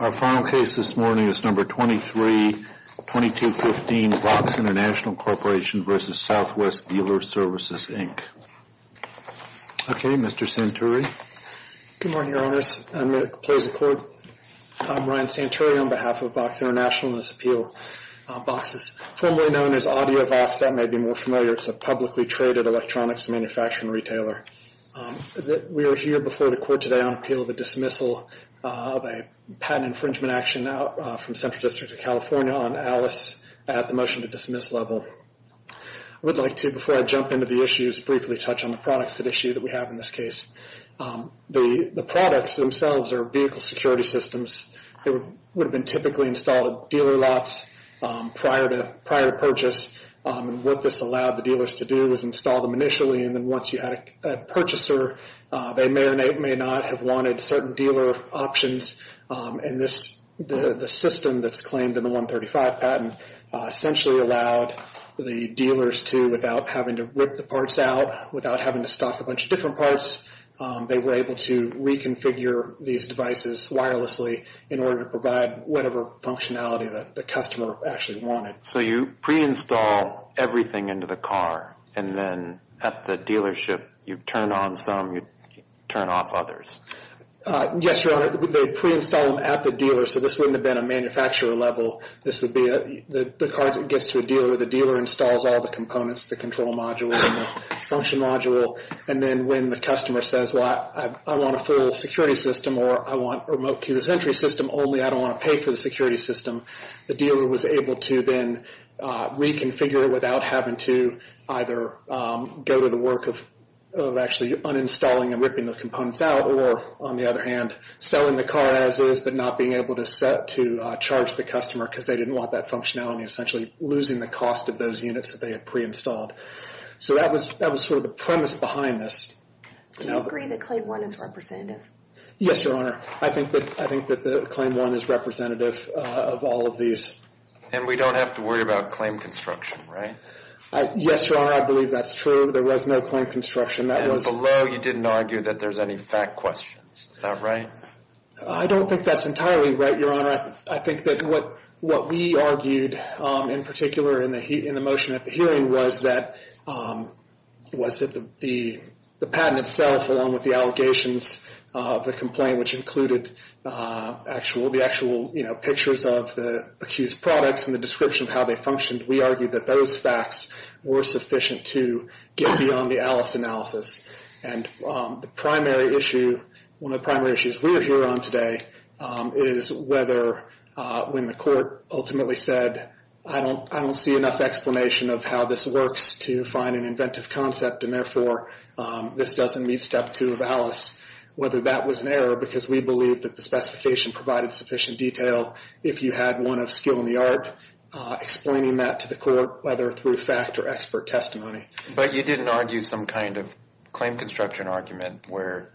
Our final case this morning is No. 23-2215, VOXX International Corp. v. Southwest Dealer Services, Inc. Okay, Mr. Santuri. Good morning, Your Honors. I'm going to close the court. I'm Ryan Santuri on behalf of VOXX International and this appeal. VOXX is formerly known as AudioVOXX, that may be more familiar. It's a publicly traded electronics manufacturing retailer. We are here before the court today on appeal of a dismissal of a patent infringement action from Central District of California on ALICE at the motion to dismiss level. I would like to, before I jump into the issues, briefly touch on the products at issue that we have in this case. The products themselves are vehicle security systems. They would have been typically installed at dealer lots prior to purchase. What this allowed the dealers to do was install them initially, and then once you had a purchaser, they may or may not have wanted certain dealer options. And the system that's claimed in the 135 patent essentially allowed the dealers to, without having to rip the parts out, without having to stock a bunch of different parts, they were able to reconfigure these devices wirelessly in order to provide whatever functionality that the customer actually wanted. So you pre-install everything into the car, and then at the dealership, you turn on some, you turn off others. Yes, Your Honor, they pre-install them at the dealer, so this wouldn't have been a manufacturer level. This would be the car gets to a dealer, the dealer installs all the components, the control module and the function module. And then when the customer says, well, I want a full security system or I want remote keyless entry system, only I don't want to pay for the security system. The dealer was able to then reconfigure it without having to either go to the work of actually uninstalling and ripping the components out, or on the other hand, selling the car as is, but not being able to set to charge the customer because they didn't want that functionality, essentially losing the cost of those units that they had pre-installed. So that was that was sort of the premise behind this. Do you agree that Claim 1 is representative? Yes, Your Honor. I think that I think that the Claim 1 is representative of all of these. And we don't have to worry about claim construction, right? Yes, Your Honor, I believe that's true. There was no claim construction. And below, you didn't argue that there's any fact questions, is that right? I don't think that's entirely right, Your Honor. I think that what we argued in particular in the motion at the hearing was that the patent itself, along with the allegations of the complaint, which included the actual pictures of the accused products and the description of how they functioned, we argued that those facts were sufficient to get beyond the ALICE analysis. And the primary issue, one of the primary issues we are here on today, is whether when the court ultimately said, I don't I don't see enough explanation of how this works to find an inventive concept. And therefore, this doesn't meet Step 2 of ALICE, whether that was an error, because we believe that the specification provided sufficient detail. If you had one of skill in the art explaining that to the court, whether through fact or expert testimony. But you didn't argue some kind of claim construction argument where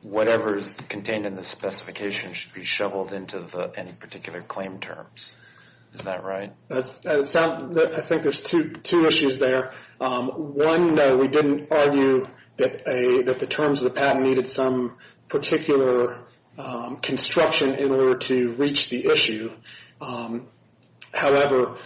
whatever is contained in the specification should be shoveled into any particular claim terms. Is that right? I think there's two issues there. One, we didn't argue that the terms of the patent needed some particular construction in order to reach the issue. However,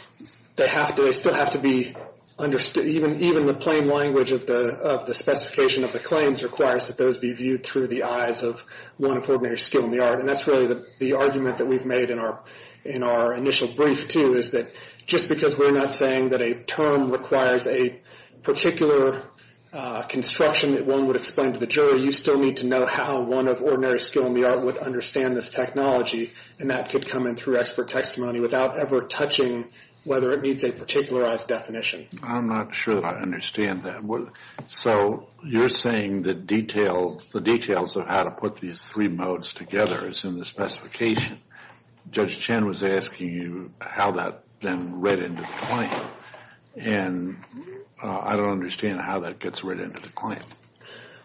they have to they still have to be understood. Even even the plain language of the of the specification of the claims requires that those be viewed through the eyes of one of ordinary skill in the art. And that's really the argument that we've made in our in our initial brief, too, is that just because we're not saying that a term requires a particular construction that one would explain to the jury, you still need to know how one of ordinary skill in the art would understand this technology. And that could come in through expert testimony without ever touching whether it meets a particularized definition. I'm not sure that I understand that. So you're saying the detail, the details of how to put these three modes together is in the specification. Judge Chen was asking you how that then read into the claim, and I don't understand how that gets read into the claim.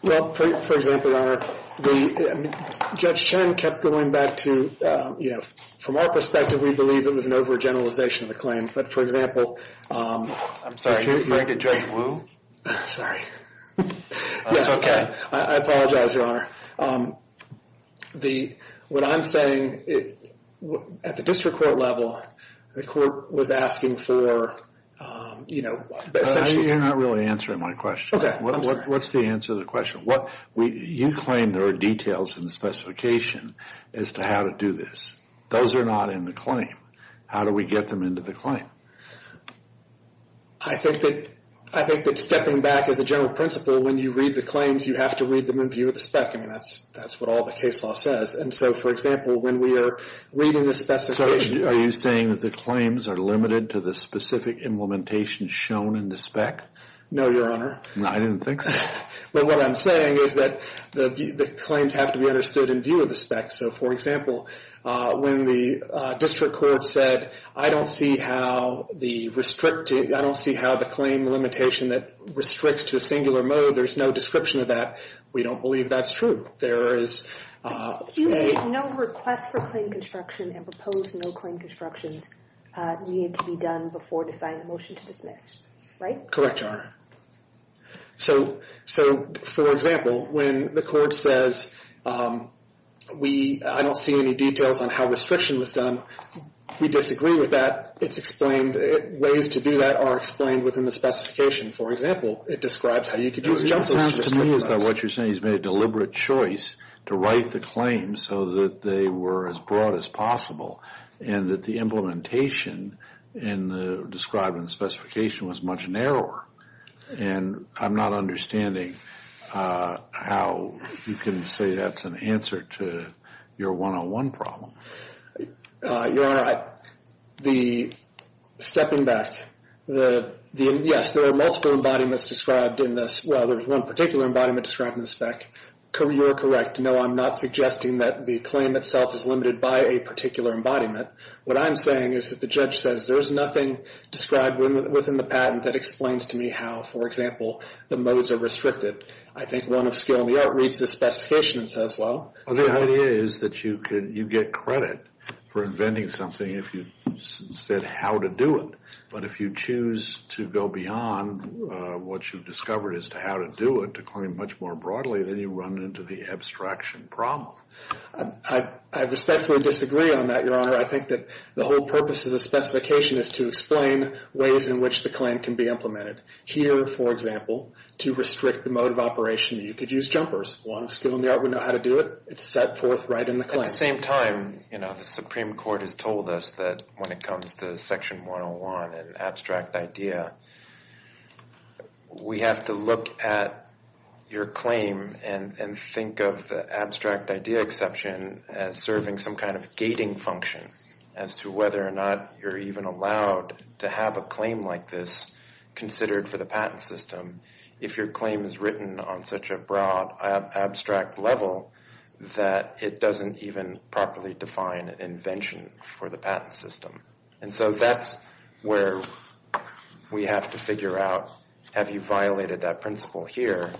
Well, for example, the judge Chen kept going back to, you know, from our perspective, we believe it was an overgeneralization of the claim. But, for example, I'm sorry, you're going to judge Wu. Sorry. Yes, OK. I apologize, Your Honor. The what I'm saying at the district court level, the court was asking for, you know, you're not really answering my question. What's the answer to the question? What you claim there are details in the specification as to how to do this. Those are not in the claim. How do we get them into the claim? I think that I think that stepping back as a general principle, when you read the claims, you have to read them in view of the spec. I mean, that's that's what all the case law says. And so, for example, when we are reading the specification, are you saying that the claims are limited to the specific implementation shown in the spec? No, Your Honor. No, I didn't think so. But what I'm saying is that the claims have to be understood in view of the spec. So, for example, when the district court said, I don't see how the restricting, I don't see how the claim limitation that restricts to a singular mode. There's no description of that. We don't believe that's true. There is no request for claim construction and proposed no claim constructions needed to be done before deciding the motion to dismiss, right? Correct, Your Honor. So so, for example, when the court says, we I don't see any details on how restriction was done. We disagree with that. It's explained. Ways to do that are explained within the specification. For example, it describes how you could use. It sounds to me as though what you're saying is made a deliberate choice to write the claim so that they were as broad as possible. And that the implementation in the described in the specification was much narrower. And I'm not understanding how you can say that's an answer to your one on one problem. Your Honor, the stepping back, the yes, there are multiple embodiments described in this. Well, there's one particular embodiment described in the spec. You're correct. No, I'm not suggesting that the claim itself is limited by a particular embodiment. What I'm saying is that the judge says there's nothing described within the patent that explains to me how, for example, the modes are restricted. I think one of skill in the art reads the specification and says, well, the idea is that you could you get credit for inventing something if you said how to do it. But if you choose to go beyond what you've discovered as to how to do it, to claim much more broadly than you run into the abstraction problem. I respectfully disagree on that, Your Honor. I think that the whole purpose of the specification is to explain ways in which the claim can be implemented. Here, for example, to restrict the mode of operation, you could use jumpers. One skill in the art would know how to do it. It's set forth right in the claim. At the same time, you know, the Supreme Court has told us that when it comes to Section 101 and abstract idea, we have to look at your claim and think of the abstract idea exception as serving some kind of gating function. As to whether or not you're even allowed to have a claim like this considered for the patent system, if your claim is written on such a broad abstract level that it doesn't even properly define invention for the patent system. And so that's where we have to figure out, have you violated that principle here?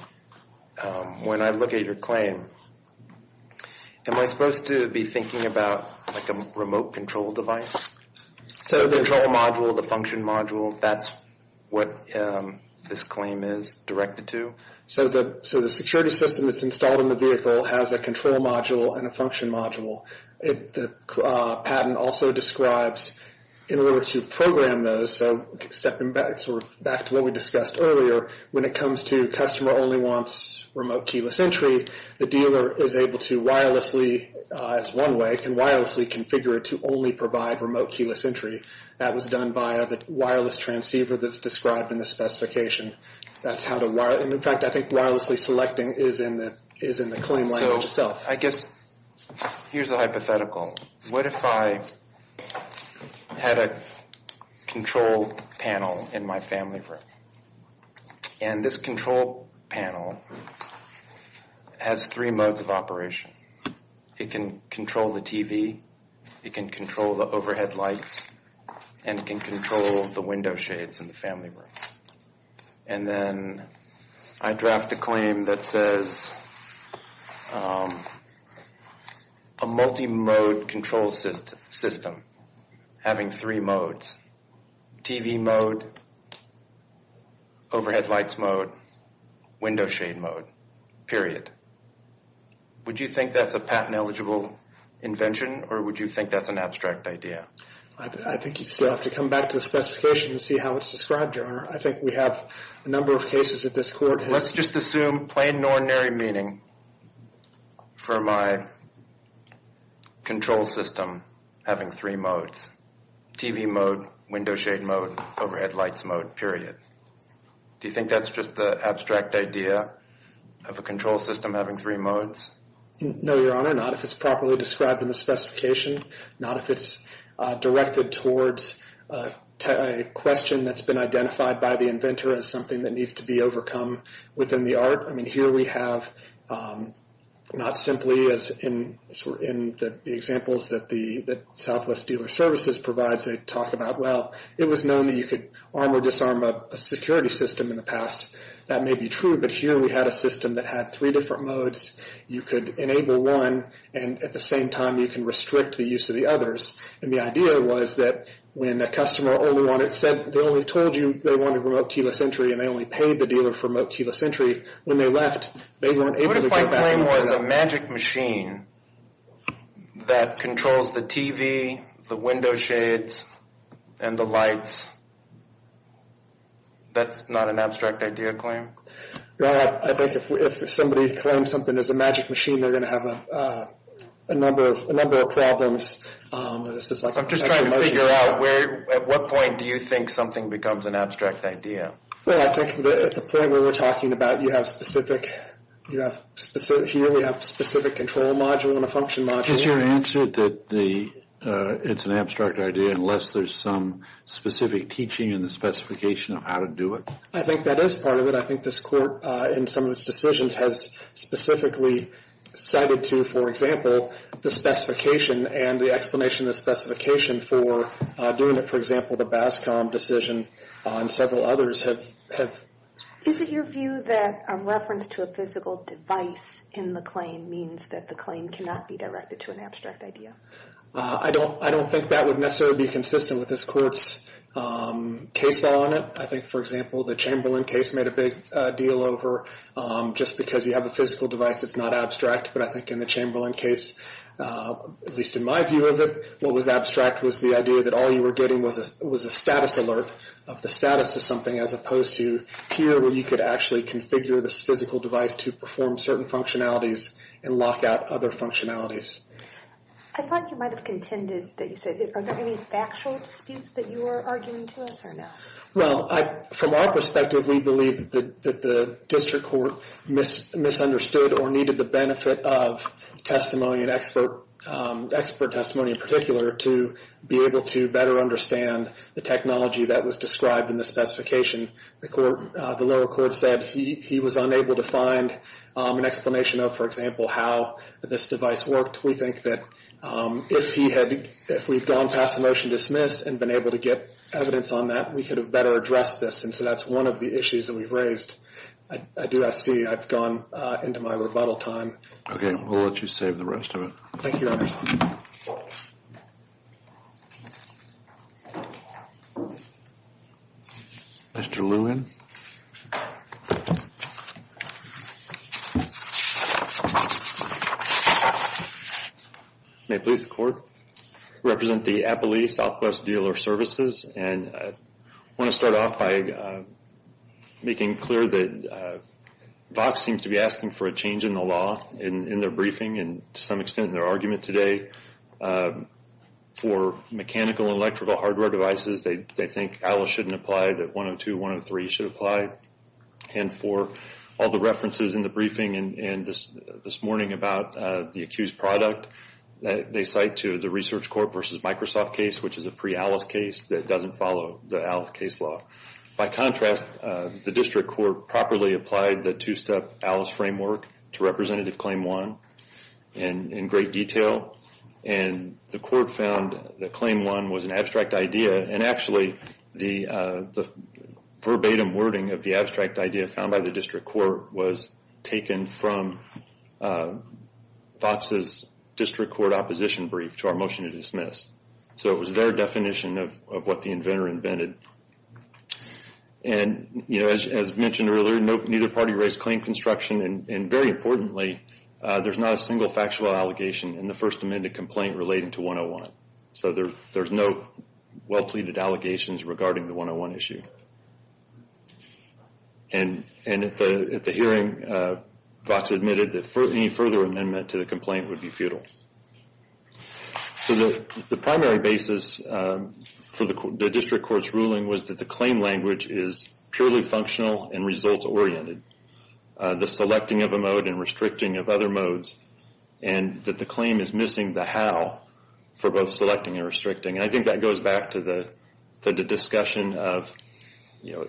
When I look at your claim, am I supposed to be thinking about like a remote control device? So the control module, the function module, that's what this claim is directed to? So the security system that's installed in the vehicle has a control module and a function module. The patent also describes in order to program those, so stepping back to what we discussed earlier, when it comes to customer only wants remote keyless entry, the dealer is able to wirelessly, as one way, can wirelessly configure it to only provide remote keyless entry. That was done via the wireless transceiver that's described in the specification. That's how to wire, and in fact, I think wirelessly selecting is in the claim language itself. I guess here's a hypothetical. What if I had a control panel in my family room? And this control panel has three modes of operation. It can control the TV, it can control the overhead lights, and it can control the window shades in the family room. And then I draft a claim that says a multi-mode control system having three modes, TV mode, overhead lights mode, window shade mode, period. Would you think that's a patent eligible invention, or would you think that's an abstract idea? I think you'd still have to come back to the specification and see how it's described, Your Honor. I think we have a number of cases that this court has... Let's just assume plain and ordinary meaning for my control system having three modes. TV mode, window shade mode, overhead lights mode, period. Do you think that's just the abstract idea of a control system having three modes? No, Your Honor, not if it's properly described in the specification. Not if it's directed towards a question that's been identified by the inventor as something that needs to be overcome within the art. I mean, here we have, not simply as in the examples that Southwest Dealer Services provides, they talk about, well, it was known that you could arm or disarm a security system in the past. That may be true, but here we had a system that had three different modes. You could enable one, and at the same time, you can restrict the use of the others. And the idea was that when a customer only told you they wanted remote keyless entry, and they only paid the dealer for remote keyless entry, when they left, they weren't able to get back into the... What if my claim was a magic machine that controls the TV, the window shades, and the lights? That's not an abstract idea claim? Your Honor, I think if somebody claims something is a magic machine, they're going to have a number of problems. I'm just trying to figure out where, at what point do you think something becomes an abstract idea? Well, I think at the point we were talking about, you have specific, here we have a specific control module and a function module. Is your answer that it's an abstract idea unless there's some specific teaching in the specification of how to do it? I think that is part of it. I think this Court, in some of its decisions, has specifically cited to, for example, the specification and the explanation of the specification for doing it. For example, the BASCOM decision and several others have... Is it your view that a reference to a physical device in the claim means that the claim cannot be directed to an abstract idea? I don't think that would necessarily be consistent with this Court's case law on it. I think, for example, the Chamberlain case made a big deal over, just because you have a physical device, it's not abstract. But I think in the Chamberlain case, at least in my view of it, what was abstract was the idea that all you were getting was a status alert of the status of something, as opposed to here, where you could actually configure this physical device to perform certain functionalities and lock out other functionalities. I thought you might have contended that you said, are there any factual disputes that you were arguing to us or no? Well, from our perspective, we believe that the District Court misunderstood or needed the benefit of testimony and expert testimony in particular to be able to better understand the technology that was described in the specification. The lower court said he was unable to find an explanation of, for example, how this device worked. We think that if he had, if we've gone past the motion dismissed and been able to get evidence on that, we could have better addressed this. And so that's one of the issues that we've raised. I do, I see I've gone into my rebuttal time. Okay, we'll let you save the rest of it. Thank you, Your Honor. Mr. Lewin. May it please the Court. Represent the Appalachee Southwest Dealer Services. And I want to start off by making clear that Vox seems to be asking for a change in the law in their briefing, and to some extent in their argument today, for mechanical and electrical hardware devices, they think Alice shouldn't apply, that 102, 103 should apply. And for all the references in the briefing and this morning about the accused product, they cite to the Research Court versus Microsoft case, which is a pre-Alice case that doesn't follow the Alice case law. By contrast, the district court properly applied the two-step Alice framework to Representative Claim 1 in great detail. And the court found that Claim 1 was an abstract idea, and actually the verbatim wording of the abstract idea found by the district court was taken from Vox's district court opposition brief to our motion to dismiss. So it was their definition of what the inventor invented. And, you know, as mentioned earlier, neither party raised claim construction, and very importantly, there's not a single factual allegation in the First Amendment complaint relating to 101. So there's no well-pleaded allegations regarding the 101 issue. And at the hearing, Vox admitted that any further amendment to the complaint would be futile. So the primary basis for the district court's ruling was that the claim language is purely functional and results-oriented. The selecting of a mode and restricting of other modes, and that the claim is missing the how for both selecting and restricting. And I think that goes back to the discussion of, you know,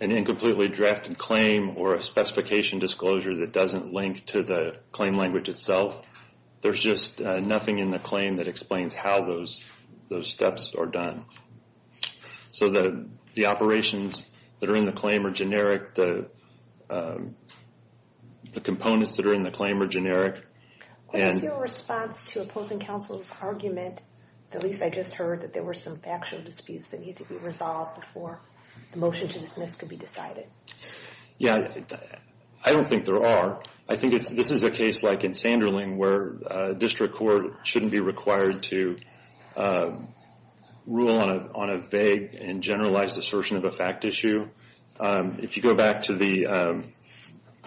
an incompletely drafted claim or a specification disclosure that doesn't link to the claim language itself. There's just nothing in the claim that explains how those steps are done. So the operations that are in the claim are generic. The components that are in the claim are generic. What is your response to opposing counsel's argument, at least I just heard that there were some factual disputes that need to be resolved before the motion to dismiss could be decided? Yeah, I don't think there are. I think this is a case like in Sanderling where a district court shouldn't be required to rule on a vague and generalized assertion of a fact issue. If you go back to the,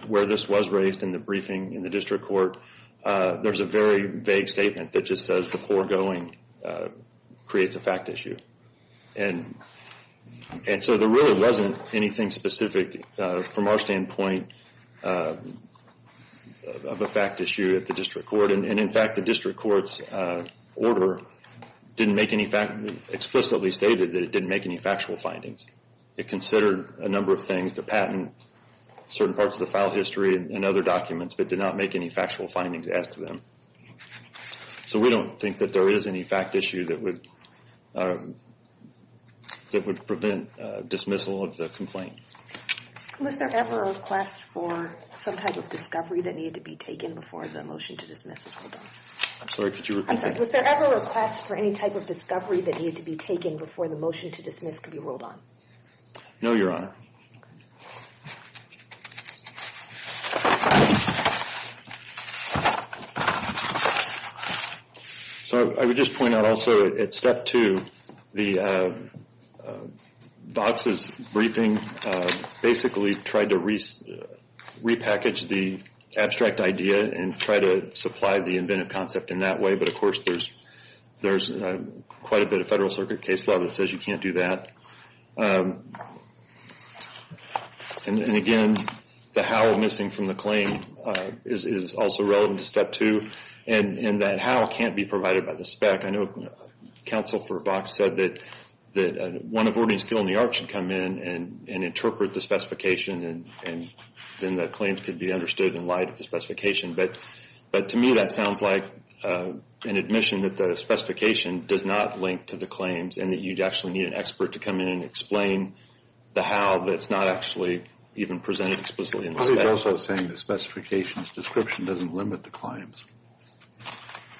where this was raised in the briefing in the district court, there's a very vague statement that just says the foregoing creates a fact issue. And so there really wasn't anything specific from our standpoint of a fact issue at the district court. And in fact, the district court's order didn't make any fact, explicitly stated that it didn't make any factual findings. It considered a number of things, the patent, certain parts of the file history and other documents, but did not make any factual findings as to them. So we don't think that there is any fact issue that would prevent dismissal of the complaint. Was there ever a request for some type of discovery that needed to be taken before the motion to dismiss was ruled on? I'm sorry, could you repeat that? I'm sorry, was there ever a request for any type of discovery that needed to be taken before the motion to dismiss could be ruled on? No, Your Honor. So I would just point out also at step two, the DOCSIS briefing basically tried to repackage the abstract idea and try to supply the inventive concept in that way. But of course, there's quite a bit of Federal Circuit case law that says you can't do that. And again, the how missing from the claim is also relevant to step two. And that how can't be provided by the spec. I know counsel for Vox said that one of ordering skill in the arts should come in and interpret the specification and then the claims could be understood in light of the specification. But to me, that sounds like an admission that the specification does not link to the claims and that you'd actually need an expert to come in and explain the how that's not actually even presented explicitly. But he's also saying the specifications description doesn't limit the claims.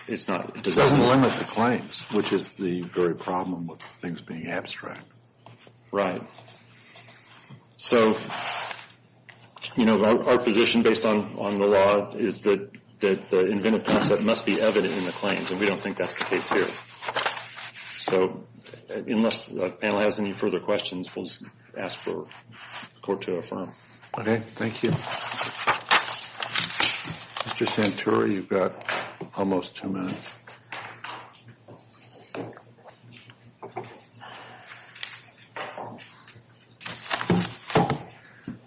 It's not. It doesn't limit the claims, which is the very problem with things being abstract. Right. So, you know, our position based on the law is that the inventive concept must be evident in the claims and we don't think that's the case here. So unless the panel has any further questions, we'll ask for the court to affirm. Okay, thank you. Mr. Santuri, you've got almost two minutes.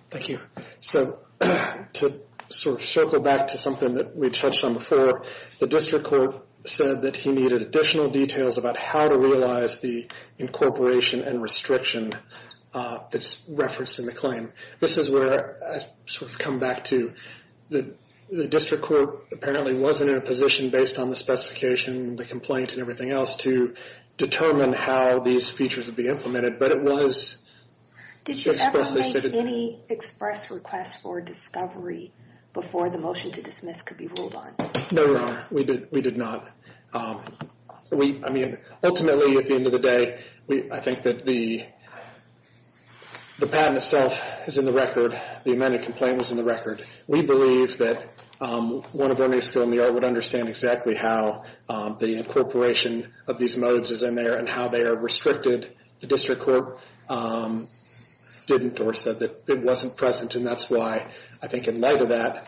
Thank you. So to sort of circle back to something that we touched on before, the district court said that he needed additional details about how to realize the incorporation and restriction that's referenced in the claim. This is where I sort of come back to the district court apparently wasn't in a position based on the specification, the complaint and everything else to determine how these features would be implemented. But it was... Did you ever make any express request for discovery before the motion to dismiss could be ruled on? No, Your Honor, we did not. We, I mean, ultimately at the end of the day, we, I think that the patent itself is in the record. The amended complaint was in the record. We believe that one of Ernie's skill in the art would understand exactly how the incorporation of these modes is in there and how they are restricted. The district court didn't or said that it wasn't present and that's why I think in light of that,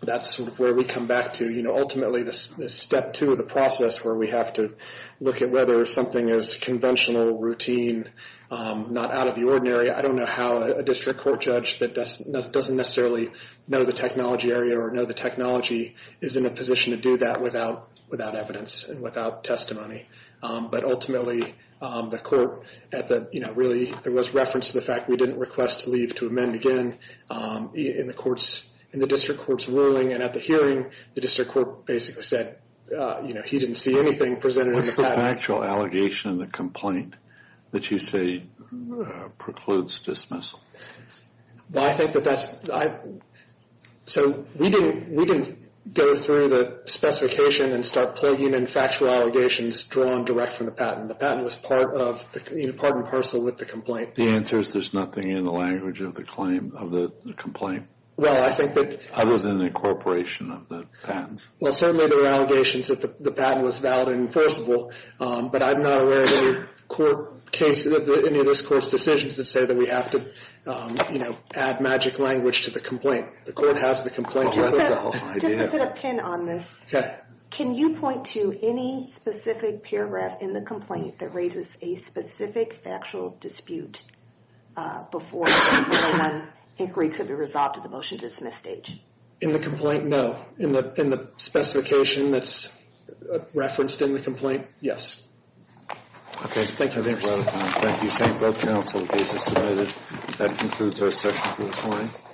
that's where we come back to, you know, ultimately the step two of the process where we have to look at whether something is conventional, routine, not out of the ordinary. I don't know how a district court judge that doesn't necessarily know the technology area or know the technology is in a position to do that without evidence and without testimony. But ultimately, the court at the, you know, really there was reference to the fact we didn't request to leave to amend again in the court's, in the district court's ruling and at the hearing, the district court basically said, you know, he didn't see anything presented. What's the factual allegation in the complaint that you say precludes dismissal? Well, I think that that's, I, so we didn't, we didn't go through the specification and start plugging in factual allegations drawn direct from the patent. The patent was part of the, you know, part and parcel with the complaint. The answer is there's nothing in the language of the claim. Of the complaint. Well, I think that. Other than the incorporation of the patents. Well, certainly there are allegations that the patent was valid and enforceable, but I'm not aware of any court case, any of this court's decisions that say that we have to, you know, add magic language to the complaint. The court has the complaint to itself. Just to put a pin on this. Can you point to any specific paragraph in the complaint that raises a specific factual dispute before the inquiry could be resolved at the motion to dismiss stage? In the complaint, no. In the, in the specification that's referenced in the complaint, yes. Okay, thank you very much. Thank you. Thank both counsel. The case is submitted. That concludes our session for this morning.